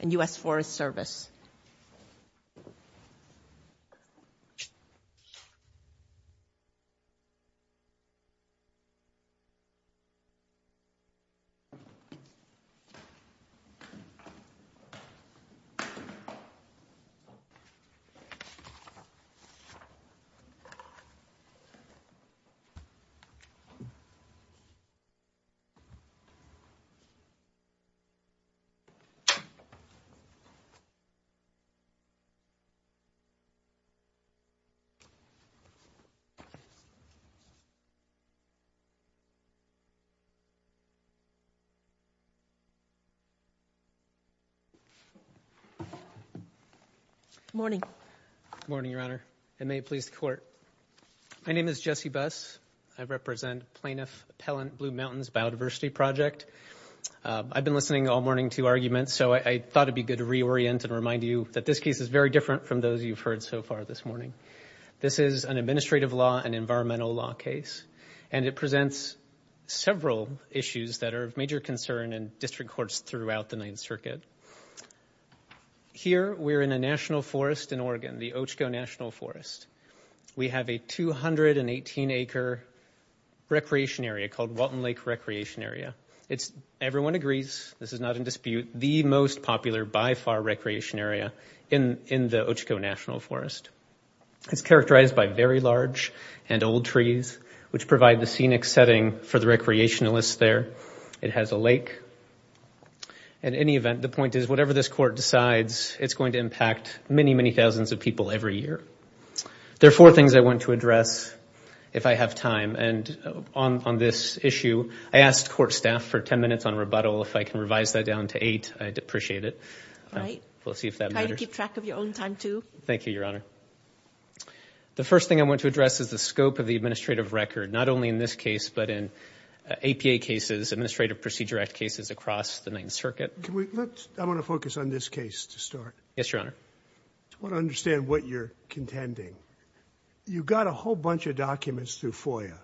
and U.S. Forest Service. Good morning, Your Honor, and may it please the Court, my name is Jesse Buss, I represent Plaintiff Appellant Blue Mountains Biodiversity Project. I've been listening all morning to arguments, so I thought it'd be good to reorient and remind you that this case is very different from those you've heard so far this morning. This is an administrative law and environmental law case, and it presents several issues that are of major concern in district courts throughout the Ninth Circuit. Here we're in a national forest in Oregon, the Ocho National Forest. We have a 218-acre recreation area called Walton Lake Recreation Area. It's, everyone agrees, this is not in dispute, the most popular by far recreation area in the Ocho National Forest. It's characterized by very large and old trees, which provide the scenic setting for the recreationalists there. It has a lake. In any event, the point is whatever this court decides, it's going to impact many, many thousands of people every year. There are four things I want to address, if I have time, and on this issue, I asked court staff for 10 minutes on rebuttal, if I can revise that down to eight, I'd appreciate it. All right. We'll see if that matters. Try to keep track of your own time, too. Thank you, Your Honor. The first thing I want to address is the scope of the administrative record, not only in this case, but in APA cases, Administrative Procedure Act cases across the Ninth Circuit. Can we, let's, I want to focus on this case to start. Yes, Your Honor. I want to understand what you're contending. You got a whole bunch of documents through FOIA.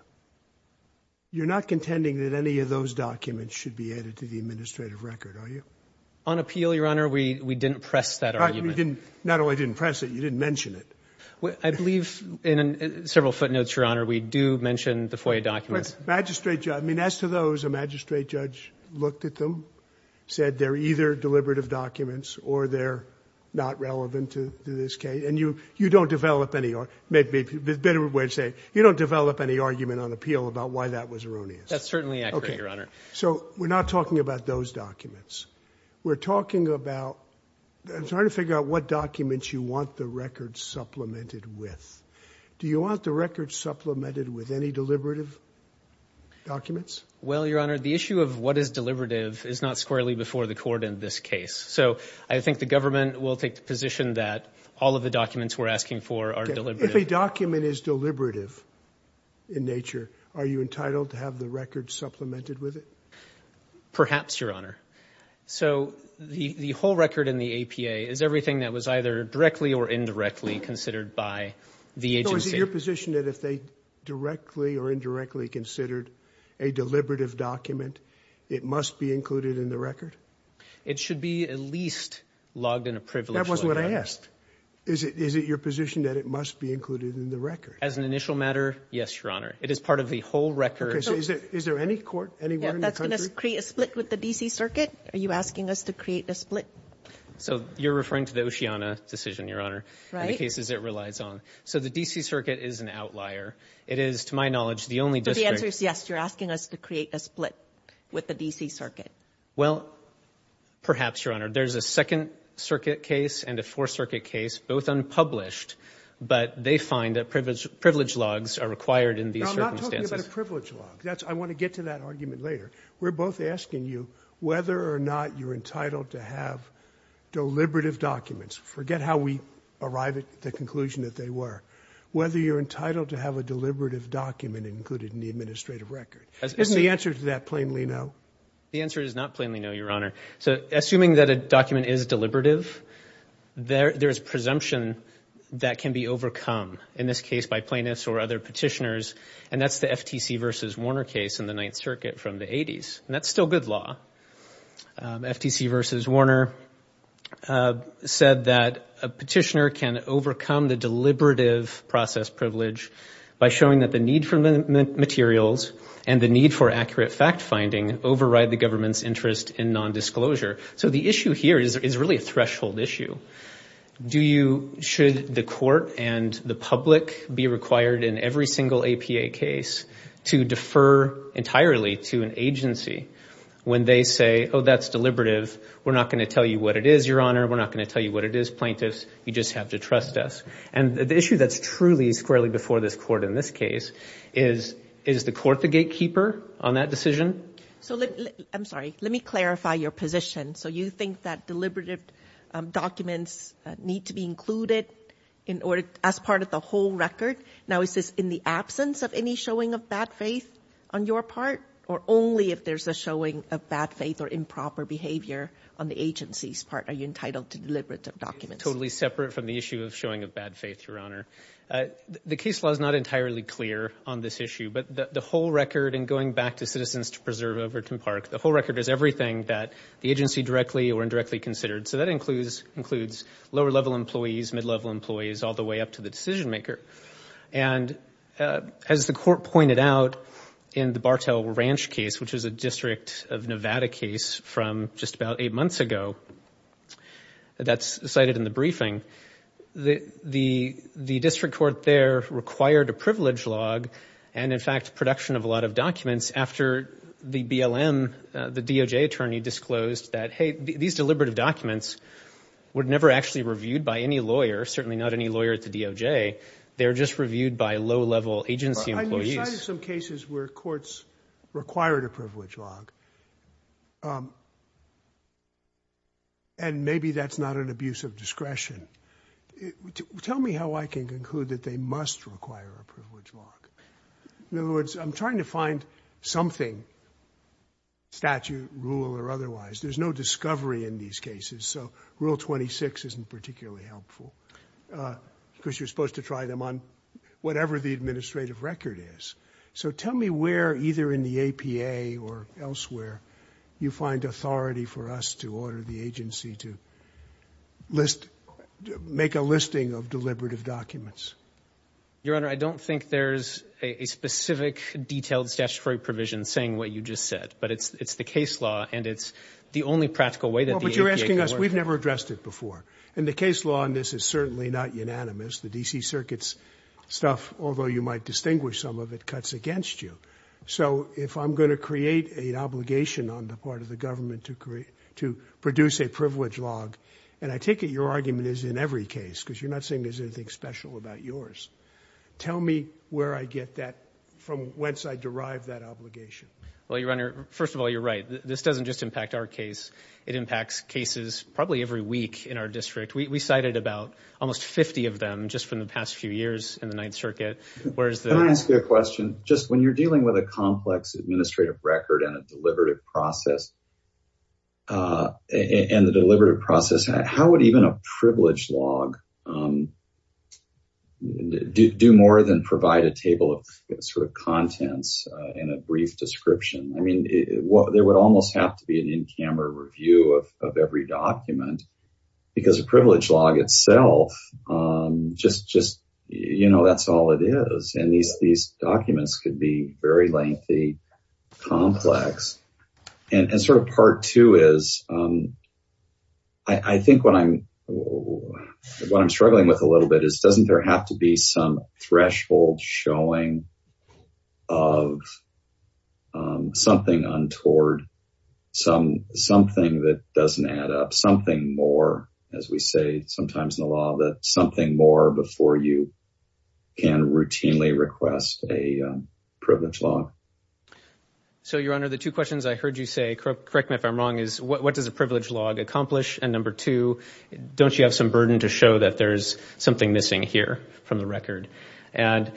You're not contending that any of those documents should be added to the administrative record, are you? On appeal, Your Honor, we didn't press that argument. Not only didn't press it, you didn't mention it. I believe in several footnotes, Your Honor, we do mention the FOIA documents. Magistrate judge, I mean, as to those, a magistrate judge looked at them, said they're either deliberative documents or they're not relevant to this case, and you, you don't develop any, there's a better way to say it, you don't develop any argument on appeal about why that was erroneous. That's certainly accurate, Your Honor. Okay. So we're not talking about those documents. We're talking about, I'm trying to figure out what documents you want the records supplemented with. Do you want the records supplemented with any deliberative documents? Well, Your Honor, the issue of what is deliberative is not squarely before the court in this case. So I think the government will take the position that all of the documents we're asking for are deliberative. Okay. If a document is deliberative in nature, are you entitled to have the record supplemented with it? Perhaps, Your Honor. So the, the whole record in the APA is everything that was either directly or indirectly considered by the agency. So is it your position that if they directly or indirectly considered a deliberative document, it must be included in the record? It should be at least logged in a privilege logout. That wasn't what I asked. Is it, is it your position that it must be included in the record? As an initial matter? Yes, Your Honor. It is part of the whole record. Okay. So is there, is there any court anywhere in the country? Yeah. That's going to create a split with the DC Circuit. Are you asking us to create a split? So you're referring to the Oceana decision, Your Honor. Right. In the cases it relies on. So the DC Circuit is an outlier. It is, to my knowledge, the only district. So the answer is yes. You're asking us to create a split with the DC Circuit. Well, perhaps, Your Honor. There's a Second Circuit case and a Fourth Circuit case, both unpublished, but they find that privilege, privilege logs are required in these circumstances. No, I'm not talking about a privilege log. That's, I want to get to that argument later. We're both asking you whether or not you're entitled to have deliberative documents. Forget how we arrived at the conclusion that they were. Whether you're entitled to have a deliberative document included in the administrative record. Isn't the answer to that plainly no? The answer is not plainly no, Your Honor. So, assuming that a document is deliberative, there's presumption that can be overcome. In this case, by plaintiffs or other petitioners, and that's the FTC v. Warner case in the Ninth Circuit from the 80s, and that's still good law. FTC v. Warner said that a petitioner can overcome the deliberative process privilege by showing that the need for materials and the need for accurate fact-finding override the government's interest in nondisclosure. So, the issue here is really a threshold issue. Do you, should the court and the public be required in every single APA case to defer entirely to an agency when they say, oh, that's deliberative. We're not going to tell you what it is, Your Honor. We're not going to tell you what it is, plaintiffs. You just have to trust us. And the issue that's truly squarely before this court in this case is, is the court the gatekeeper on that decision? So, I'm sorry, let me clarify your position. So, you think that deliberative documents need to be included in order, as part of the whole record. Now, is this in the absence of any showing of bad faith on your part, or only if there's a showing of bad faith or improper behavior on the agency's part? Are you entitled to deliberative documents? Totally separate from the issue of showing of bad faith, Your Honor. The case law is not entirely clear on this issue, but the whole record and going back to Citizens to Preserve over Tim Park, the whole record is everything that the agency directly or indirectly considered. So that includes lower-level employees, mid-level employees, all the way up to the decision maker. And as the court pointed out in the Bartell Ranch case, which is a District of Nevada case from just about eight months ago, that's cited in the briefing, the District Court there required a privilege log and, in fact, production of a lot of documents after the BLM, the DOJ attorney, disclosed that, hey, these deliberative documents were never actually reviewed by any lawyer, certainly not any lawyer at the DOJ. They're just reviewed by low-level agency employees. I mean, you cited some cases where courts required a privilege log, and maybe that's not an abuse of discretion. Tell me how I can conclude that they must require a privilege log. In other words, I'm trying to find something, statute, rule, or otherwise. There's no discovery in these cases, so Rule 26 isn't particularly helpful because you're supposed to try them on whatever the administrative record is. So tell me where, either in the APA or elsewhere, you find authority for us to order the agency to make a listing of deliberative documents. Your Honor, I don't think there's a specific detailed statutory provision saying what you just said, but it's the case law, and it's the only practical way that the APA can order it. Well, but you're asking us. We've never addressed it before. And the case law on this is certainly not unanimous. The D.C. Circuit's stuff, although you might distinguish some of it, cuts against you. So if I'm going to create an obligation on the part of the government to produce a privilege log, and I take it your argument is in every case, because you're not saying there's anything special about yours. Tell me where I get that from, whence I derive that obligation. Well, Your Honor, first of all, you're right. This doesn't just impact our case. It impacts cases probably every week in our district. We cited about almost 50 of them just from the past few years in the Ninth Circuit, whereas the— So if you're dealing with a complex administrative record and a deliberative process, and the deliberative process, how would even a privilege log do more than provide a table of sort of contents and a brief description? I mean, there would almost have to be an in-camera review of every document, because a privilege log itself, just, you know, that's all it is. And these documents could be very lengthy, complex. And sort of part two is, I think what I'm struggling with a little bit is doesn't there have to be some threshold showing of something untoward, something that doesn't add up, something more, as we say sometimes in the law, that something more before you can routinely request a privilege log. So Your Honor, the two questions I heard you say, correct me if I'm wrong, is what does a privilege log accomplish? And number two, don't you have some burden to show that there's something missing here from the record? And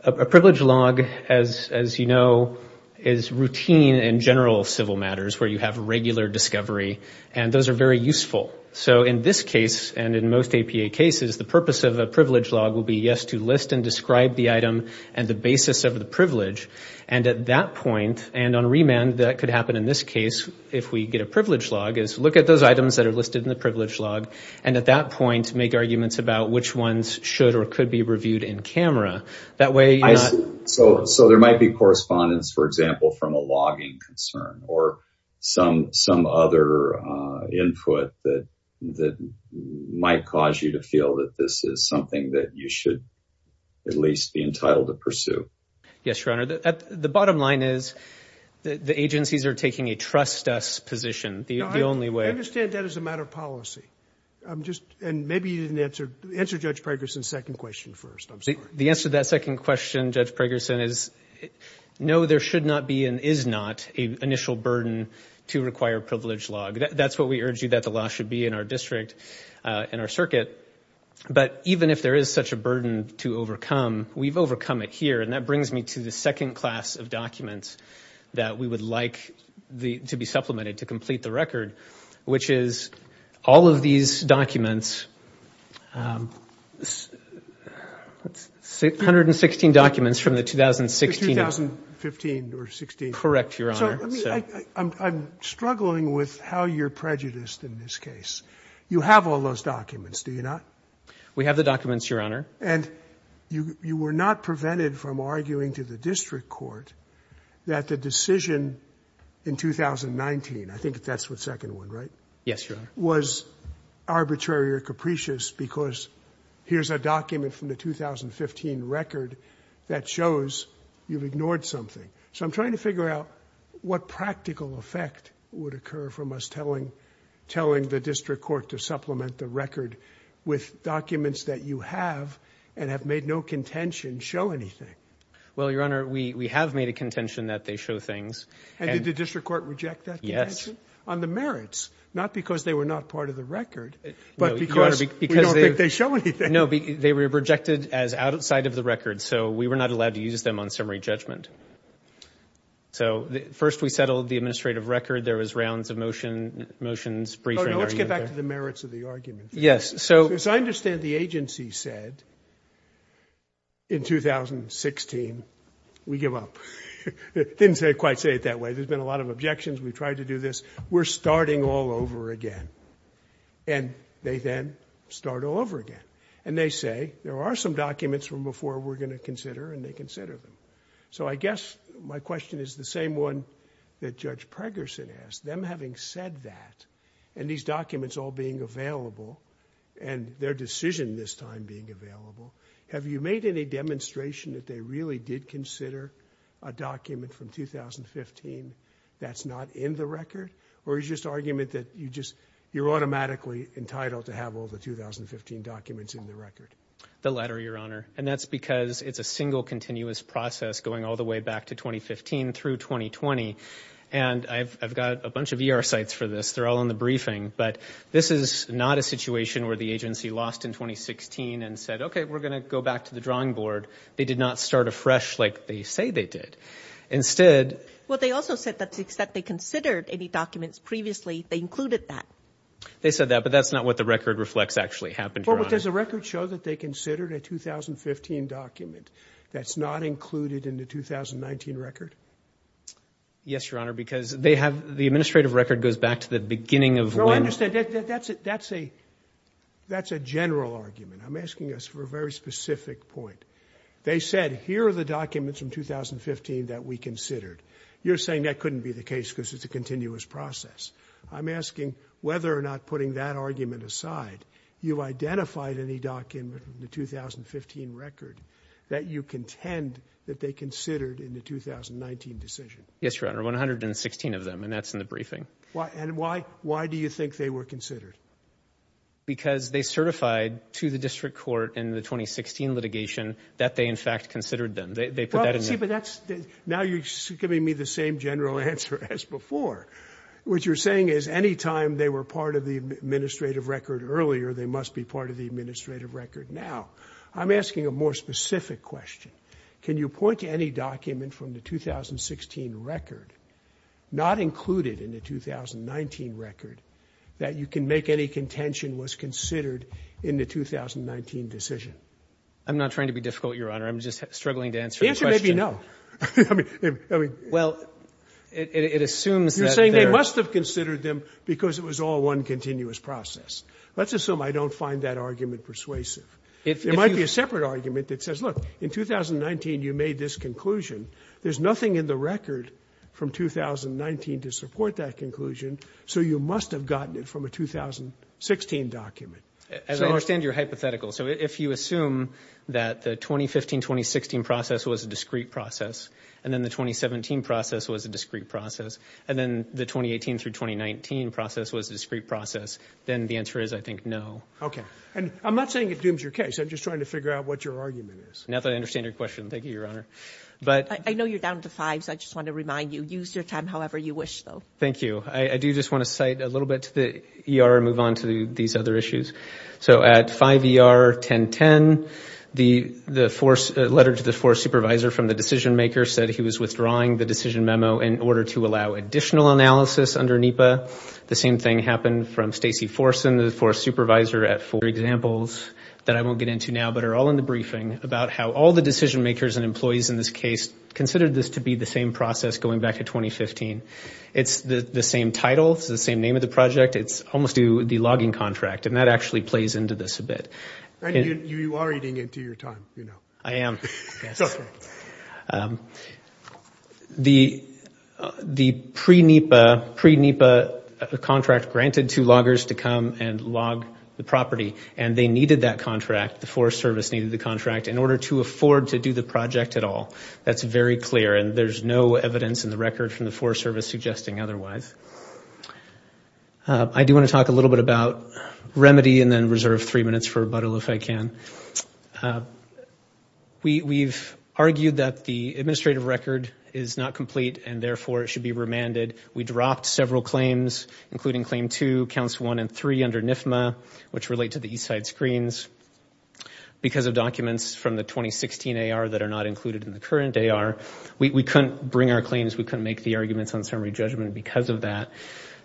a privilege log, as you know, is routine in general civil matters where you have regular discovery, and those are very useful. So in this case, and in most APA cases, the purpose of a privilege log will be, yes, to list and describe the item and the basis of the privilege. And at that point, and on remand, that could happen in this case, if we get a privilege log, is look at those items that are listed in the privilege log, and at that point, make arguments about which ones should or could be reviewed in camera. That way you're not- So there might be correspondence, for example, from a logging concern, or some other input that might cause you to feel that this is something that you should at least be entitled to pursue. Yes, Your Honor. The bottom line is, the agencies are taking a trust us position. The only way- I understand that as a matter of policy. And maybe you didn't answer, answer Judge Preggerson's second question first, I'm sorry. The answer to that second question, Judge Preggerson, is no, there should not be and is not an initial burden to require a privilege log. That's what we urge you that the law should be in our district, in our circuit. But even if there is such a burden to overcome, we've overcome it here, and that brings me to the second class of documents that we would like to be supplemented to complete the record, which is all of these documents, let's see, 116 documents from the 2016- The 2015 or 16- Correct, Your Honor. So let me, I'm struggling with how you're prejudiced in this case. You have all those documents, do you not? We have the documents, Your Honor. And you were not prevented from arguing to the district court that the decision in 2019, I think that's the second one, right? Yes, Your Honor. Was arbitrary or capricious because here's a document from the 2015 record that shows you've ignored something. So I'm trying to figure out what practical effect would occur from us telling, telling the district court to supplement the record with documents that you have and have made no contention show anything. Well, Your Honor, we have made a contention that they show things. And did the district court reject that? Yes. On the merits, not because they were not part of the record, but because we don't think they show anything. No, they were rejected as outside of the record. So we were not allowed to use them on summary judgment. So first we settled the administrative record. There was rounds of motions, briefing- No, no, let's get back to the merits of the argument. Yes, so- As I understand, the agency said in 2016, we give up, didn't quite say it that way. There's been a lot of objections. We've tried to do this. We're starting all over again. And they then start all over again. And they say, there are some documents from before we're going to consider, and they consider them. So I guess my question is the same one that Judge Pregerson asked. Them having said that, and these documents all being available, and their decision this time being available, have you made any demonstration that they really did consider a document from 2015? That's not in the record? Or is just argument that you just, you're automatically entitled to have all the 2015 documents in the record? The latter, your honor. And that's because it's a single continuous process going all the way back to 2015 through 2020. And I've got a bunch of ER sites for this. They're all in the briefing. But this is not a situation where the agency lost in 2016 and said, okay, we're going to go back to the drawing board. They did not start afresh like they say they did. Instead- Well, they also said that they considered any documents previously, they included that. They said that, but that's not what the record reflects actually happened, your honor. Well, but does the record show that they considered a 2015 document that's not included in the 2019 record? Yes, your honor, because they have, the administrative record goes back to the beginning of when- No, I understand. That's a, that's a, that's a general argument. I'm asking us for a very specific point. They said, here are the documents from 2015 that we considered. You're saying that couldn't be the case because it's a continuous process. I'm asking whether or not putting that argument aside, you identified any document from the 2015 record that you contend that they considered in the 2019 decision? Yes, your honor. 116 of them. And that's in the briefing. Why? And why, why do you think they were considered? Because they certified to the district court in the 2016 litigation that they in fact considered them. They put that in there. See, but that's, now you're giving me the same general answer as before. What you're saying is anytime they were part of the administrative record earlier, they must be part of the administrative record now. I'm asking a more specific question. Can you point to any document from the 2016 record, not included in the 2019 record, that you can make any contention was considered in the 2019 decision? I'm not trying to be difficult, your honor. I'm just struggling to answer the question. Answer maybe no. I mean, I mean. Well, it assumes that they're You're saying they must have considered them because it was all one continuous process. Let's assume I don't find that argument persuasive. It might be a separate argument that says, look, in 2019, you made this conclusion. There's nothing in the record from 2019 to support that conclusion, so you must have gotten it from a 2016 document. As I understand your hypothetical, so if you assume that the 2015-2016 process was a discrete process and then the 2017 process was a discrete process and then the 2018 through 2019 process was a discrete process, then the answer is, I think, no. Okay. And I'm not saying it dooms your case. I'm just trying to figure out what your argument is. Now that I understand your question. Thank you, your honor. But. I know you're down to fives. I just want to remind you, use your time however you wish, though. Thank you. Thank you. I do just want to cite a little bit to the ER and move on to these other issues. So at 5 ER 1010, the letter to the force supervisor from the decision maker said he was withdrawing the decision memo in order to allow additional analysis under NEPA. The same thing happened from Stacey Forsen, the force supervisor, at four examples that I won't get into now, but are all in the briefing about how all the decision makers and employees in this case considered this to be the same process going back to 2015. It's the same title. It's the same name of the project. It's almost to the logging contract. And that actually plays into this a bit. You are eating into your time, you know, I am the the pre NEPA pre NEPA contract granted to loggers to come and log the property and they needed that contract. The Forest Service needed the contract in order to afford to do the project at all. That's very clear. And there's no evidence in the record from the Forest Service suggesting otherwise. I do want to talk a little bit about remedy and then reserve three minutes for rebuttal if I can. We've argued that the administrative record is not complete and therefore it should be remanded. We dropped several claims, including claim two, counts one and three under NIFMA, which relate to the east side screens because of documents from the 2016 AR that are not included in the current AR. We couldn't bring our claims, we couldn't make the arguments on summary judgment because of that.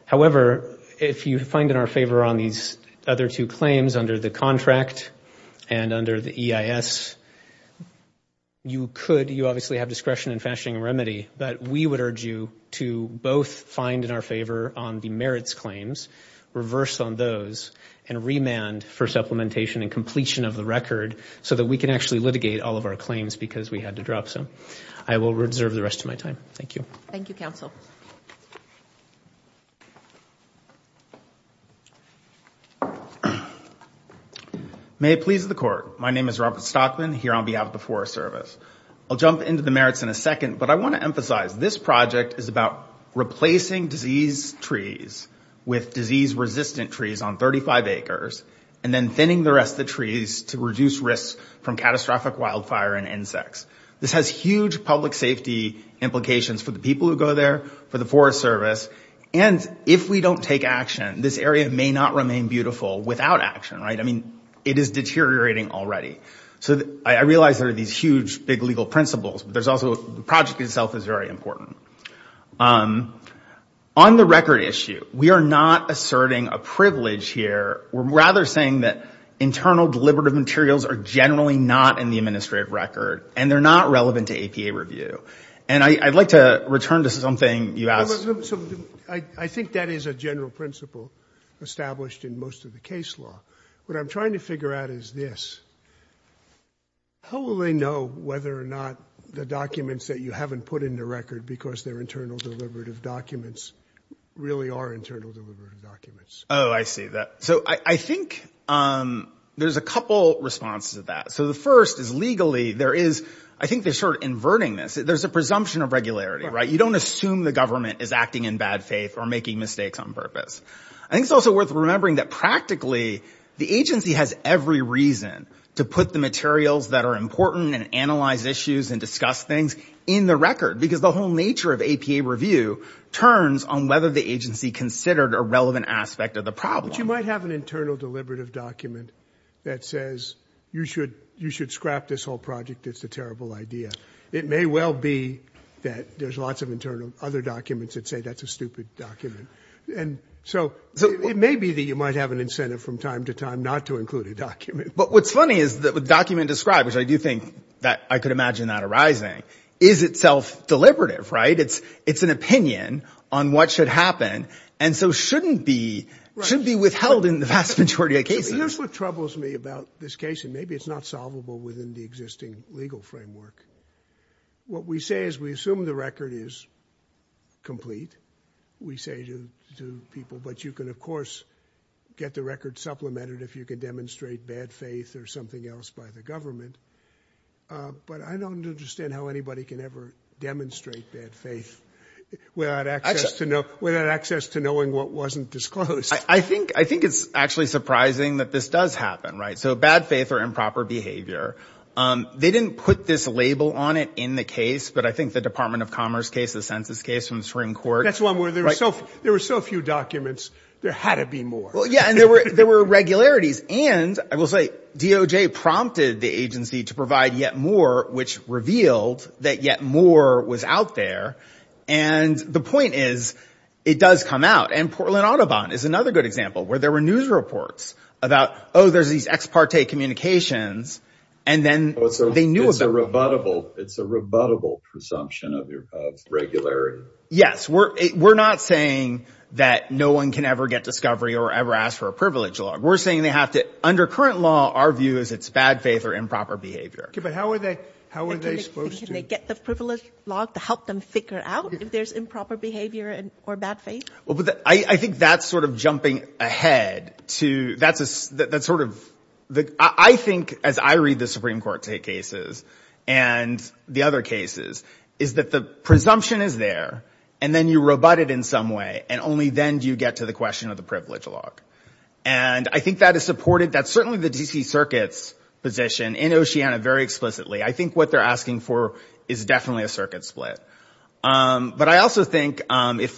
However, if you find in our favor on these other two claims under the contract and under the EIS, you could, you obviously have discretion in fashioning a remedy, but we would urge you to both find in our favor on the merits claims, reverse on those, and remand for supplementation and completion of the record so that we can actually litigate all of our claims because we had to drop some. I will reserve the rest of my time. Thank you. Thank you, counsel. May it please the court. My name is Robert Stockman here on behalf of the Forest Service. I'll jump into the merits in a second, but I want to emphasize this project is about replacing disease trees with disease resistant trees on 35 acres and then thinning the rest of the trees to reduce risks from catastrophic wildfire and insects. This has huge public safety implications for the people who go there, for the Forest Service, and if we don't take action, this area may not remain beautiful without action, right? I mean, it is deteriorating already. So I realize there are these huge big legal principles, but there's also, the project itself is very important. On the record issue, we are not asserting a privilege here. We're rather saying that internal deliberative materials are generally not in the administrative record and they're not relevant to APA review. And I'd like to return to something you asked. I think that is a general principle established in most of the case law. What I'm trying to figure out is this, how will they know whether or not the documents that you haven't put in the record because they're internal deliberative documents really are internal deliberative documents? Oh, I see that. So I think there's a couple responses to that. So the first is legally, there is, I think they're sort of inverting this. There's a presumption of regularity, right? You don't assume the government is acting in bad faith or making mistakes on purpose. I think it's also worth remembering that practically, the agency has every reason to put the materials that are important and analyze issues and discuss things in the record because the whole nature of APA review turns on whether the agency considered a relevant aspect of the problem. But you might have an internal deliberative document that says, you should scrap this whole project. It's a terrible idea. It may well be that there's lots of internal other documents that say that's a stupid document. And so it may be that you might have an incentive from time to time not to include a document. But what's funny is that with document described, which I do think that I could imagine that arising, is itself deliberative, right? It's an opinion on what should happen. And so shouldn't be, should be withheld in the vast majority of cases. Here's what troubles me about this case, and maybe it's not solvable within the existing legal framework. What we say is we assume the record is complete. We say to people, but you can, of course, get the record supplemented if you can demonstrate bad faith or something else by the government. But I don't understand how anybody can ever demonstrate bad faith without access to, without access to knowing what wasn't disclosed. I think, I think it's actually surprising that this does happen, right? So bad faith or improper behavior. They didn't put this label on it in the case. But I think the Department of Commerce case, the census case from the Supreme Court. That's one where there were so, there were so few documents, there had to be more. Well, yeah. And there were, there were irregularities. And I will say, DOJ prompted the agency to provide yet more, which revealed that yet more was out there. And the point is, it does come out. And Portland Audubon is another good example, where there were news reports about, oh, there's these ex parte communications. And then they knew about it. It's a rebuttable presumption of irregularity. Yes. We're, we're not saying that no one can ever get discovery or ever ask for a privilege log. We're saying they have to, under current law, our view is it's bad faith or improper behavior. But how are they, how are they supposed to get the privilege log to help them figure it out if there's improper behavior or bad faith? Well, but I think that's sort of jumping ahead to, that's a, that's sort of the, I think as I read the Supreme Court cases and the other cases, is that the presumption is there and then you rebut it in some way and only then do you get to the question of the privilege log. And I think that is supported, that's certainly the DC Circuit's position in Oceana very explicitly. I think what they're asking for is definitely a circuit split. But I also think if,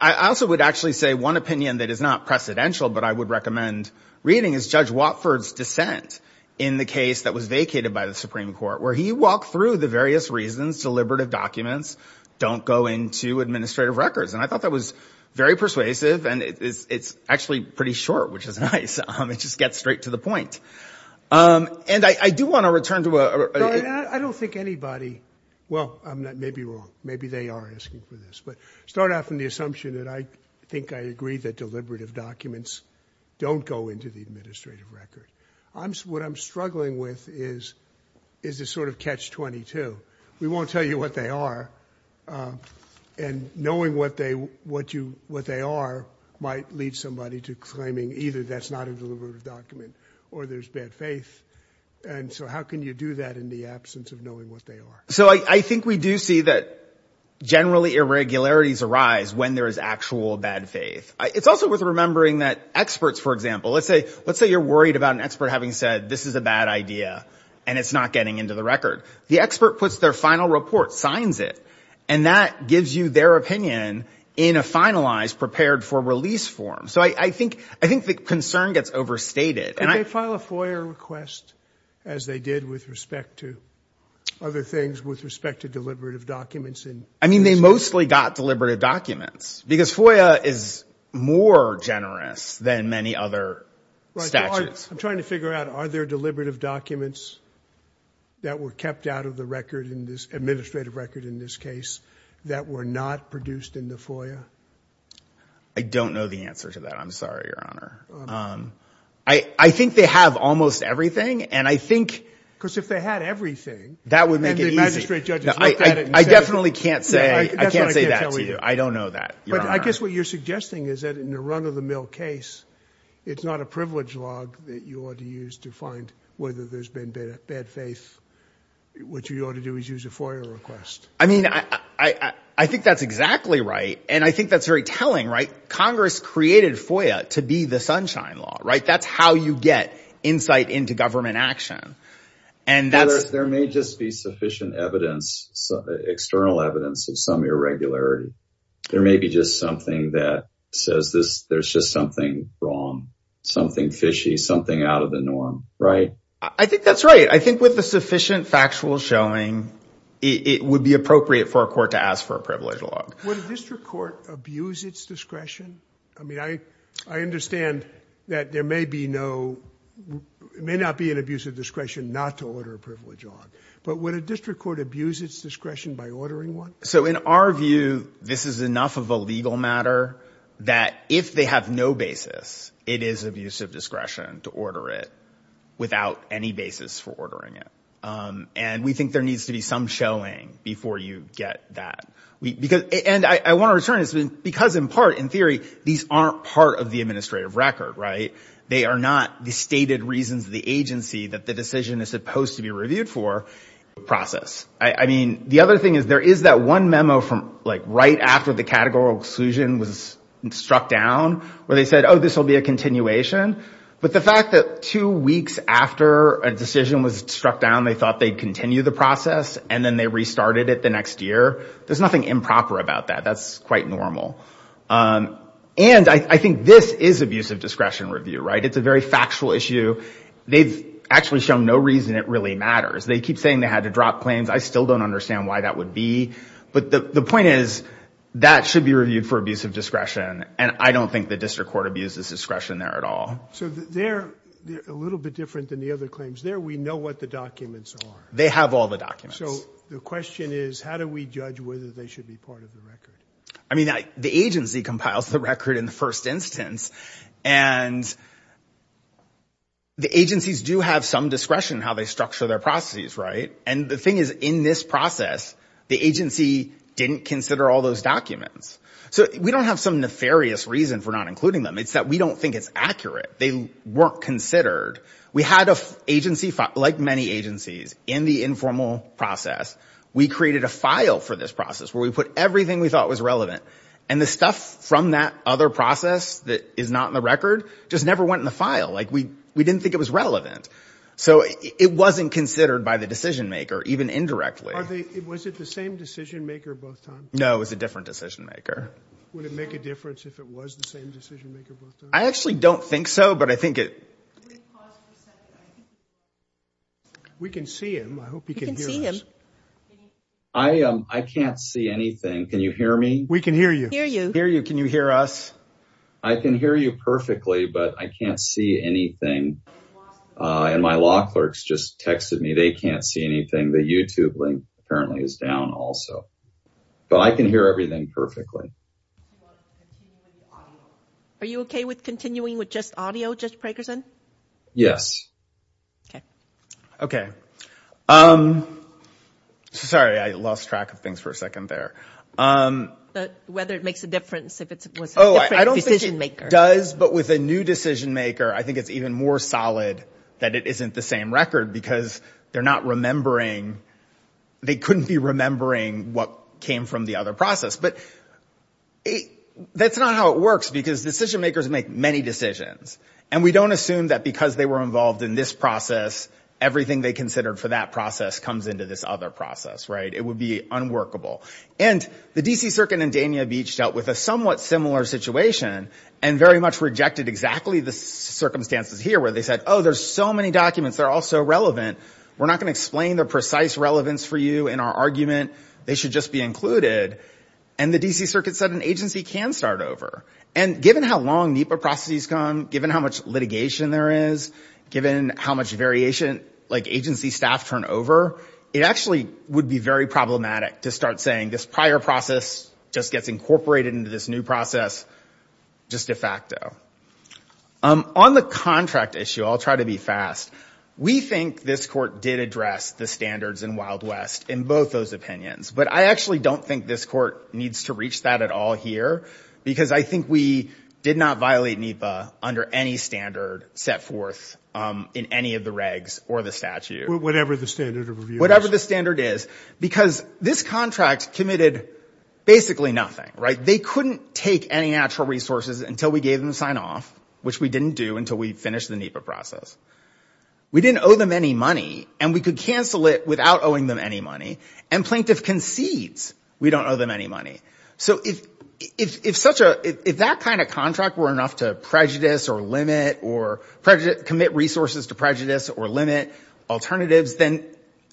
I also would actually say one opinion that is not precedential but I would recommend reading is Judge Watford's dissent in the case that was vacated by the Supreme Court where he walked through the various reasons deliberative documents don't go into administrative records. And I thought that was very persuasive and it's, it's actually pretty short, which is nice. It just gets straight to the point. And I do want to return to a... I don't think anybody, well, I may be wrong. Maybe they are asking for this, but start out from the assumption that I think I agree that deliberative documents don't go into the administrative record. I'm, what I'm struggling with is, is this sort of catch 22. We won't tell you what they are and knowing what they, what you, what they are might lead somebody to claiming either that's not a deliberative document or there's bad faith. And so how can you do that in the absence of knowing what they are? So I think we do see that generally irregularities arise when there is actual bad faith. It's also worth remembering that experts, for example, let's say, let's say you're worried about an expert having said, this is a bad idea and it's not getting into the record. The expert puts their final report, signs it, and that gives you their opinion in a finalized prepared for release form. So I think, I think the concern gets overstated and I file a FOIA request as they did with respect to other things with respect to deliberative documents. I mean, they mostly got deliberative documents because FOIA is more generous than many other statutes. I'm trying to figure out, are there deliberative documents that were kept out of the record in this administrative record in this case that were not produced in the FOIA? I don't know the answer to that. I'm sorry, Your Honor. I think they have almost everything. And I think, because if they had everything, that would make it easy. I definitely can't say, I can't say that to you. I don't know that. But I guess what you're suggesting is that in a run of the mill case, it's not a privilege log that you ought to use to find whether there's been bad faith. What you ought to do is use a FOIA request. I mean, I think that's exactly right. And I think that's very telling, right? Congress created FOIA to be the sunshine law, right? That's how you get insight into government action. And that's- There may just be sufficient evidence, external evidence of some irregularity. There may be just something that says there's just something wrong, something fishy, something out of the norm, right? I think that's right. I think with the sufficient factual showing, it would be appropriate for a court to ask for a privilege log. Would a district court abuse its discretion? I mean, I understand that there may be no, it may not be an abuse of discretion not to order a privilege log, but would a district court abuse its discretion by ordering one? So in our view, this is enough of a legal matter that if they have no basis, it is abuse of discretion to order it without any basis for ordering it. And we think there needs to be some showing before you get that. And I want to return to this, because in part, in theory, these aren't part of the administrative record, right? They are not the stated reasons of the agency that the decision is supposed to be reviewed for process. I mean, the other thing is there is that one memo from like right after the categorical exclusion was struck down where they said, oh, this will be a continuation. But the fact that two weeks after a decision was struck down, they thought they'd continue the process and then they restarted it the next year. There's nothing improper about that. That's quite normal. And I think this is abuse of discretion review, right? It's a very factual issue. They've actually shown no reason it really matters. They keep saying they had to drop claims. I still don't understand why that would be. But the point is that should be reviewed for abuse of discretion. And I don't think the district court abuses discretion there at all. So they're a little bit different than the other claims. There we know what the documents are. They have all the documents. So the question is, how do we judge whether they should be part of the record? I mean, the agency compiles the record in the first instance. And the agencies do have some discretion in how they structure their processes, right? And the thing is, in this process, the agency didn't consider all those documents. So we don't have some nefarious reason for not including them. It's that we don't think it's accurate. They weren't considered. We had an agency, like many agencies, in the informal process. We created a file for this process where we put everything we thought was relevant. And the stuff from that other process that is not in the record just never went in the file. Like, we didn't think it was relevant. So it wasn't considered by the decision maker, even indirectly. Was it the same decision maker both times? No, it was a different decision maker. Would it make a difference if it was the same decision maker both times? I actually don't think so, but I think it... Can we pause for a second? We can see him. I hope you can hear us. I can't see anything. Can you hear me? We can hear you. Hear you. Can you hear us? I can hear you perfectly, but I can't see anything. And my law clerks just texted me. They can't see anything. The YouTube link, apparently, is down also. But I can hear everything perfectly. Are you OK with continuing with just audio, Judge Prakerson? Yes. OK. OK. Sorry, I lost track of things for a second there. Whether it makes a difference if it was a different decision maker. Oh, I don't think it does, but with a new decision maker, I think it's even more solid that it isn't the same record because they're not remembering... They couldn't be remembering what came from the other process. But that's not how it works because decision makers make many decisions. And we don't assume that because they were involved in this process, everything they considered for that process comes into this other process, right? It would be unworkable. And the DC Circuit in Dania Beach dealt with a somewhat similar situation and very much rejected exactly the circumstances here where they said, oh, there's so many documents, they're all so relevant, we're not going to explain their precise relevance for you in our argument, they should just be included. And the DC Circuit said an agency can start over. And given how long NEPA processes come, given how much litigation there is, given how much variation agency staff turn over, it actually would be very problematic to start saying this prior process just gets incorporated into this new process just de facto. On the contract issue, I'll try to be fast, we think this court did address the standards in Wild West in both those opinions. But I actually don't think this court needs to reach that at all here because I think we did not violate NEPA under any standard set forth in any of the regs or the statute. Whatever the standard of review is. Whatever the standard is. Because this contract committed basically nothing, right? They couldn't take any natural resources until we gave them the sign-off, which we didn't do until we finished the NEPA process. We didn't owe them any money, and we could cancel it without owing them any money. And plaintiff concedes we don't owe them any money. So if that kind of contract were enough to prejudice or limit or commit resources to prejudice or limit alternatives, then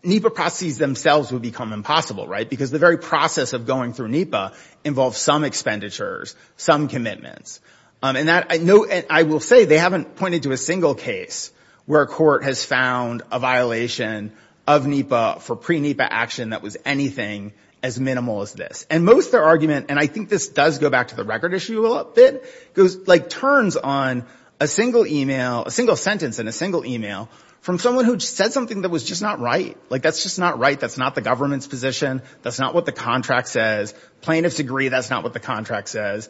NEPA processes themselves would become impossible, right? Because the very process of going through NEPA involves some expenditures, some commitments. And I will say they haven't pointed to a single case where a court has found a violation of NEPA for pre-NEPA action that was anything as minimal as this. And most of their argument, and I think this does go back to the record issue a little bit, goes, like, turns on a single email, a single sentence in a single email from someone who said something that was just not right. Like, that's just not right. That's not the government's position. That's not what the contract says. Plaintiffs agree that's not what the contract says.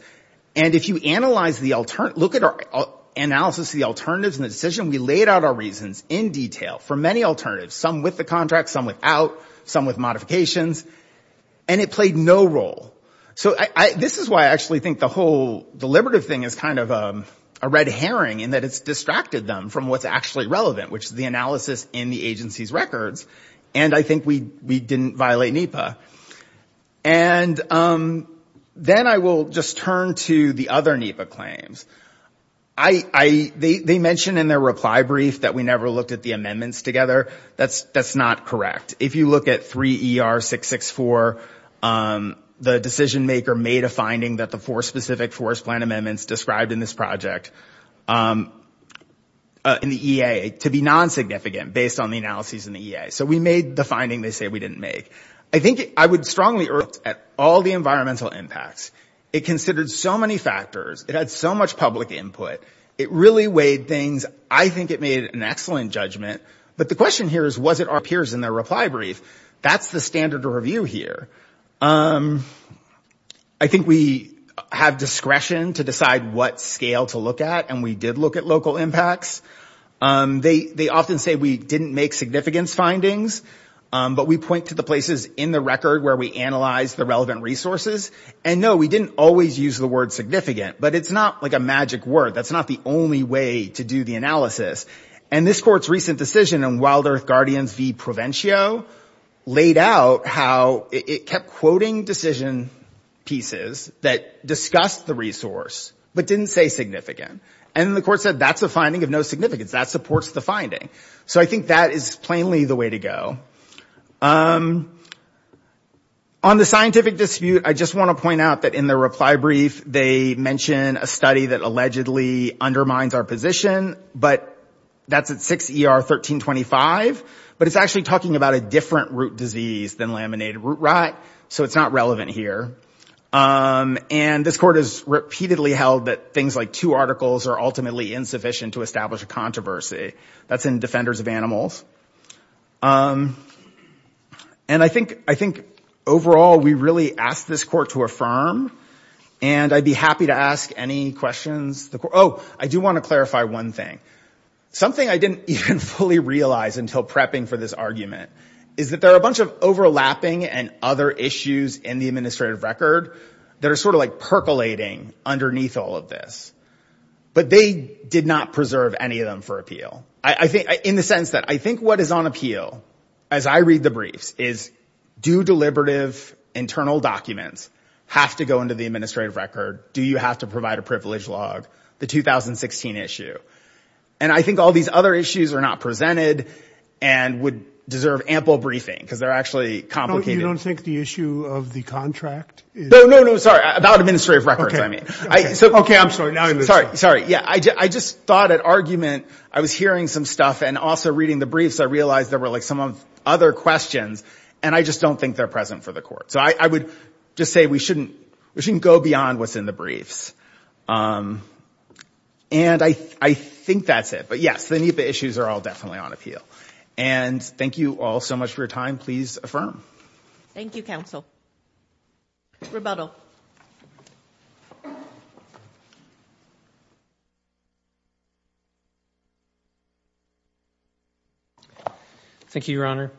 And if you analyze the alternative, look at our analysis of the alternatives in the decision, we laid out our reasons in detail for many alternatives, some with the contract, some without, some with modifications, and it played no role. So this is why I actually think the whole deliberative thing is kind of a red herring in that it's distracted them from what's actually relevant, which is the analysis in the agency's records, and I think we didn't violate NEPA. And then I will just turn to the other NEPA claims. They mention in their reply brief that we never looked at the amendments together. That's not correct. If you look at 3ER664, the decision-maker made a finding that the four specific forest plan amendments described in this project in the EA to be non-significant based on the analyses in the EA. So we made the finding they say we didn't make. I think I would strongly urge NEPA to look at all the environmental impacts. It considered so many factors. It had so much public input. It really weighed things. I think it made an excellent judgment. But the question here is, was it our peers in their reply brief? That's the standard review here. I think we have discretion to decide what scale to look at, and we did look at local impacts. They often say we didn't make significance findings, but we point to the places in the record where we analyzed the relevant resources. And no, we didn't always use the word significant, That's not the only way to do the analysis. And this court's recent decision in Wild Earth Guardians v. Provencio laid out how it kept quoting decision pieces that discussed the resource, but didn't say significant. And the court said that's a finding of no significance. That supports the finding. So I think that is plainly the way to go. On the scientific dispute, I just want to point out that in the reply brief, they mention a study that allegedly undermines our position, but that's at 6 ER 1325, but it's actually talking about a different root disease than laminated root rot, so it's not relevant here. And this court has repeatedly held that things like two articles are ultimately insufficient to establish a controversy. That's in Defenders of Animals. And I think overall, we really asked this court to affirm, and I'd be happy to ask any questions. Oh, I do want to clarify one thing. Something I didn't even fully realize until prepping for this argument is that there are a bunch of overlapping and other issues in the administrative record that are sort of like percolating underneath all of this. But they did not preserve any of them for appeal. In the sense that I think what is on appeal as I read the briefs is, do deliberative internal documents have to go into the administrative record? Do you have to provide a privilege log? The 2016 issue. And I think all these other issues are not presented and would deserve ample briefing because they're actually complicated. No, you don't think the issue of the contract is? No, no, no, sorry. About administrative records, I mean. Okay, I'm sorry. Sorry, sorry. Yeah, I just thought at argument, I was hearing some stuff and also reading the briefs, I realized there were like some other questions, and I just don't think they're present for the court. So I would just say we shouldn't go beyond what's in the briefs. And I think that's it. But yes, the NEPA issues are all definitely on appeal. And thank you all so much for your time. Please affirm. Thank you, counsel. Rebuttal. Thank you, Your Honor.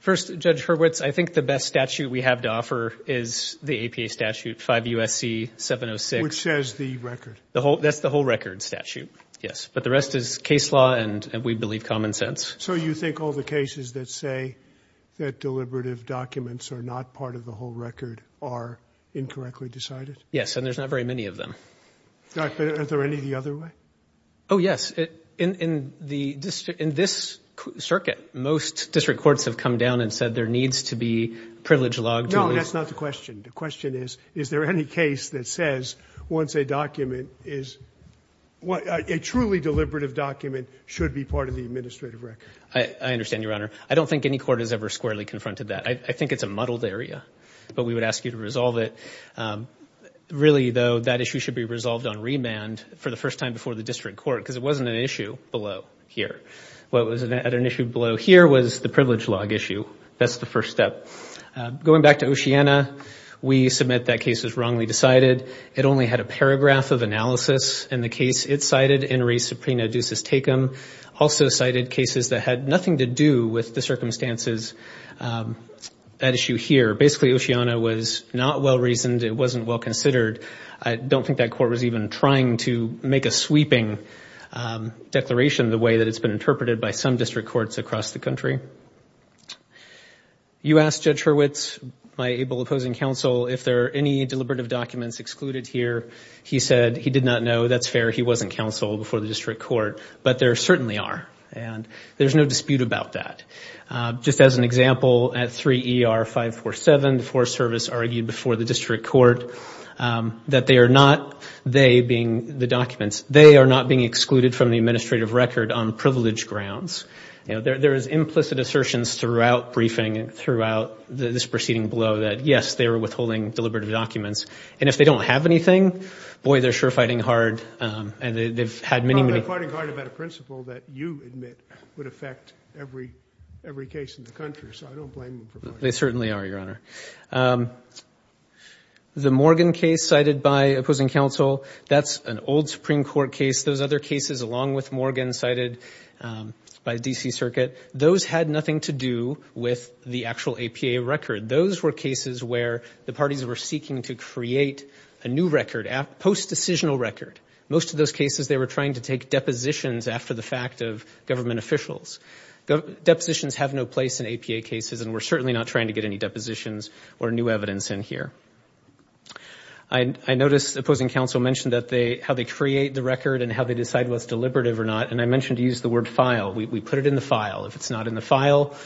First, Judge Hurwitz, I think the best statute we have to offer is the APA statute, 5 U.S.C. 706. Which says the record. That's the whole record statute, yes. But the rest is case law, and we believe common sense. So you think all the cases that say that deliberative documents are not part of the whole record are incorrectly decided? Yes, and there's not very many of them. Are there any the other way? Oh, yes. In this circuit, most district courts have come down and said there needs to be privilege logged. No, that's not the question. The question is, is there any case that says once a document is... A truly deliberative document should be part of the administrative record? I understand, Your Honor. I don't think any court has ever squarely confronted that. I think it's a muddled area. But we would ask you to resolve it. Really, though, that issue should be resolved on remand for the first time before the district court because it wasn't an issue below here. What was at an issue below here was the privilege log issue. That's the first step. Going back to Oceana, we submit that case was wrongly decided. It only had a paragraph of analysis. And the case it cited, In re Suprena Deuces Tecum, also cited cases that had nothing to do with the circumstances at issue here. Basically, Oceana was not well-reasoned. It wasn't well-considered. I don't think that court was even trying to make a sweeping declaration the way that it's been interpreted by some district courts across the country. You asked Judge Hurwitz, my able opposing counsel, if there are any deliberative documents excluded here. He said he did not know. That's fair. He wasn't counsel before the district court. But there certainly are. And there's no dispute about that. Just as an example, at 3 ER 547, the Forest Service argued before the district court that they are not, they being the documents, they are not being excluded from the administrative record on privilege grounds. There is implicit assertions throughout briefing and throughout this proceeding below that, yes, they were withholding deliberative documents. And if they don't have anything, boy, they're sure fighting hard. And they've had many, many... Well, they're fighting hard about a principle that you admit would affect every case in the country. So I don't blame them for fighting hard. They certainly are, Your Honor. The Morgan case cited by opposing counsel, that's an old Supreme Court case. Those other cases, along with Morgan, cited by the D.C. Circuit, those had nothing to do with the actual APA record. Those were cases where the parties were seeking to create a new record, post-decisional record. Most of those cases, they were trying to take depositions after the fact of government officials. Depositions have no place in APA cases, and we're certainly not trying to get any depositions or new evidence in here. I noticed opposing counsel mentioned how they create the record and how they decide what's deliberative or not, and I mentioned to use the word file. We put it in the file. If it's not in the file,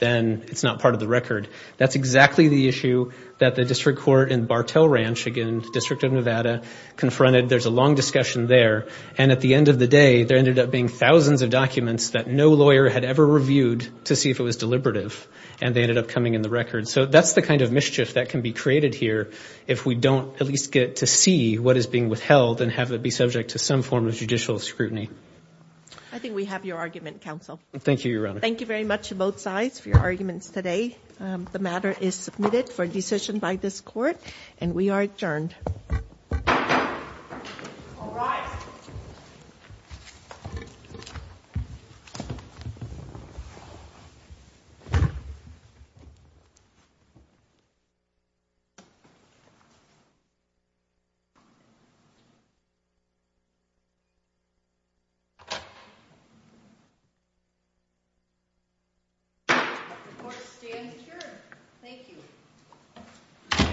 then it's not part of the record. That's exactly the issue that the district court in Bartell Ranch, again, District of Nevada, confronted. There's a long discussion there. And at the end of the day, there ended up being thousands of documents that no lawyer had ever reviewed to see if it was deliberative, and they ended up coming in the record. So that's the kind of mischief that can be created here if we don't at least get to see what is being withheld and have it be subject to some form of judicial scrutiny. I think we have your argument, counsel. Thank you, Your Honor. Thank you very much to both sides for your arguments today. The matter is submitted for decision by this court, and we are adjourned. All rise. The court stands adjourned. Thank you.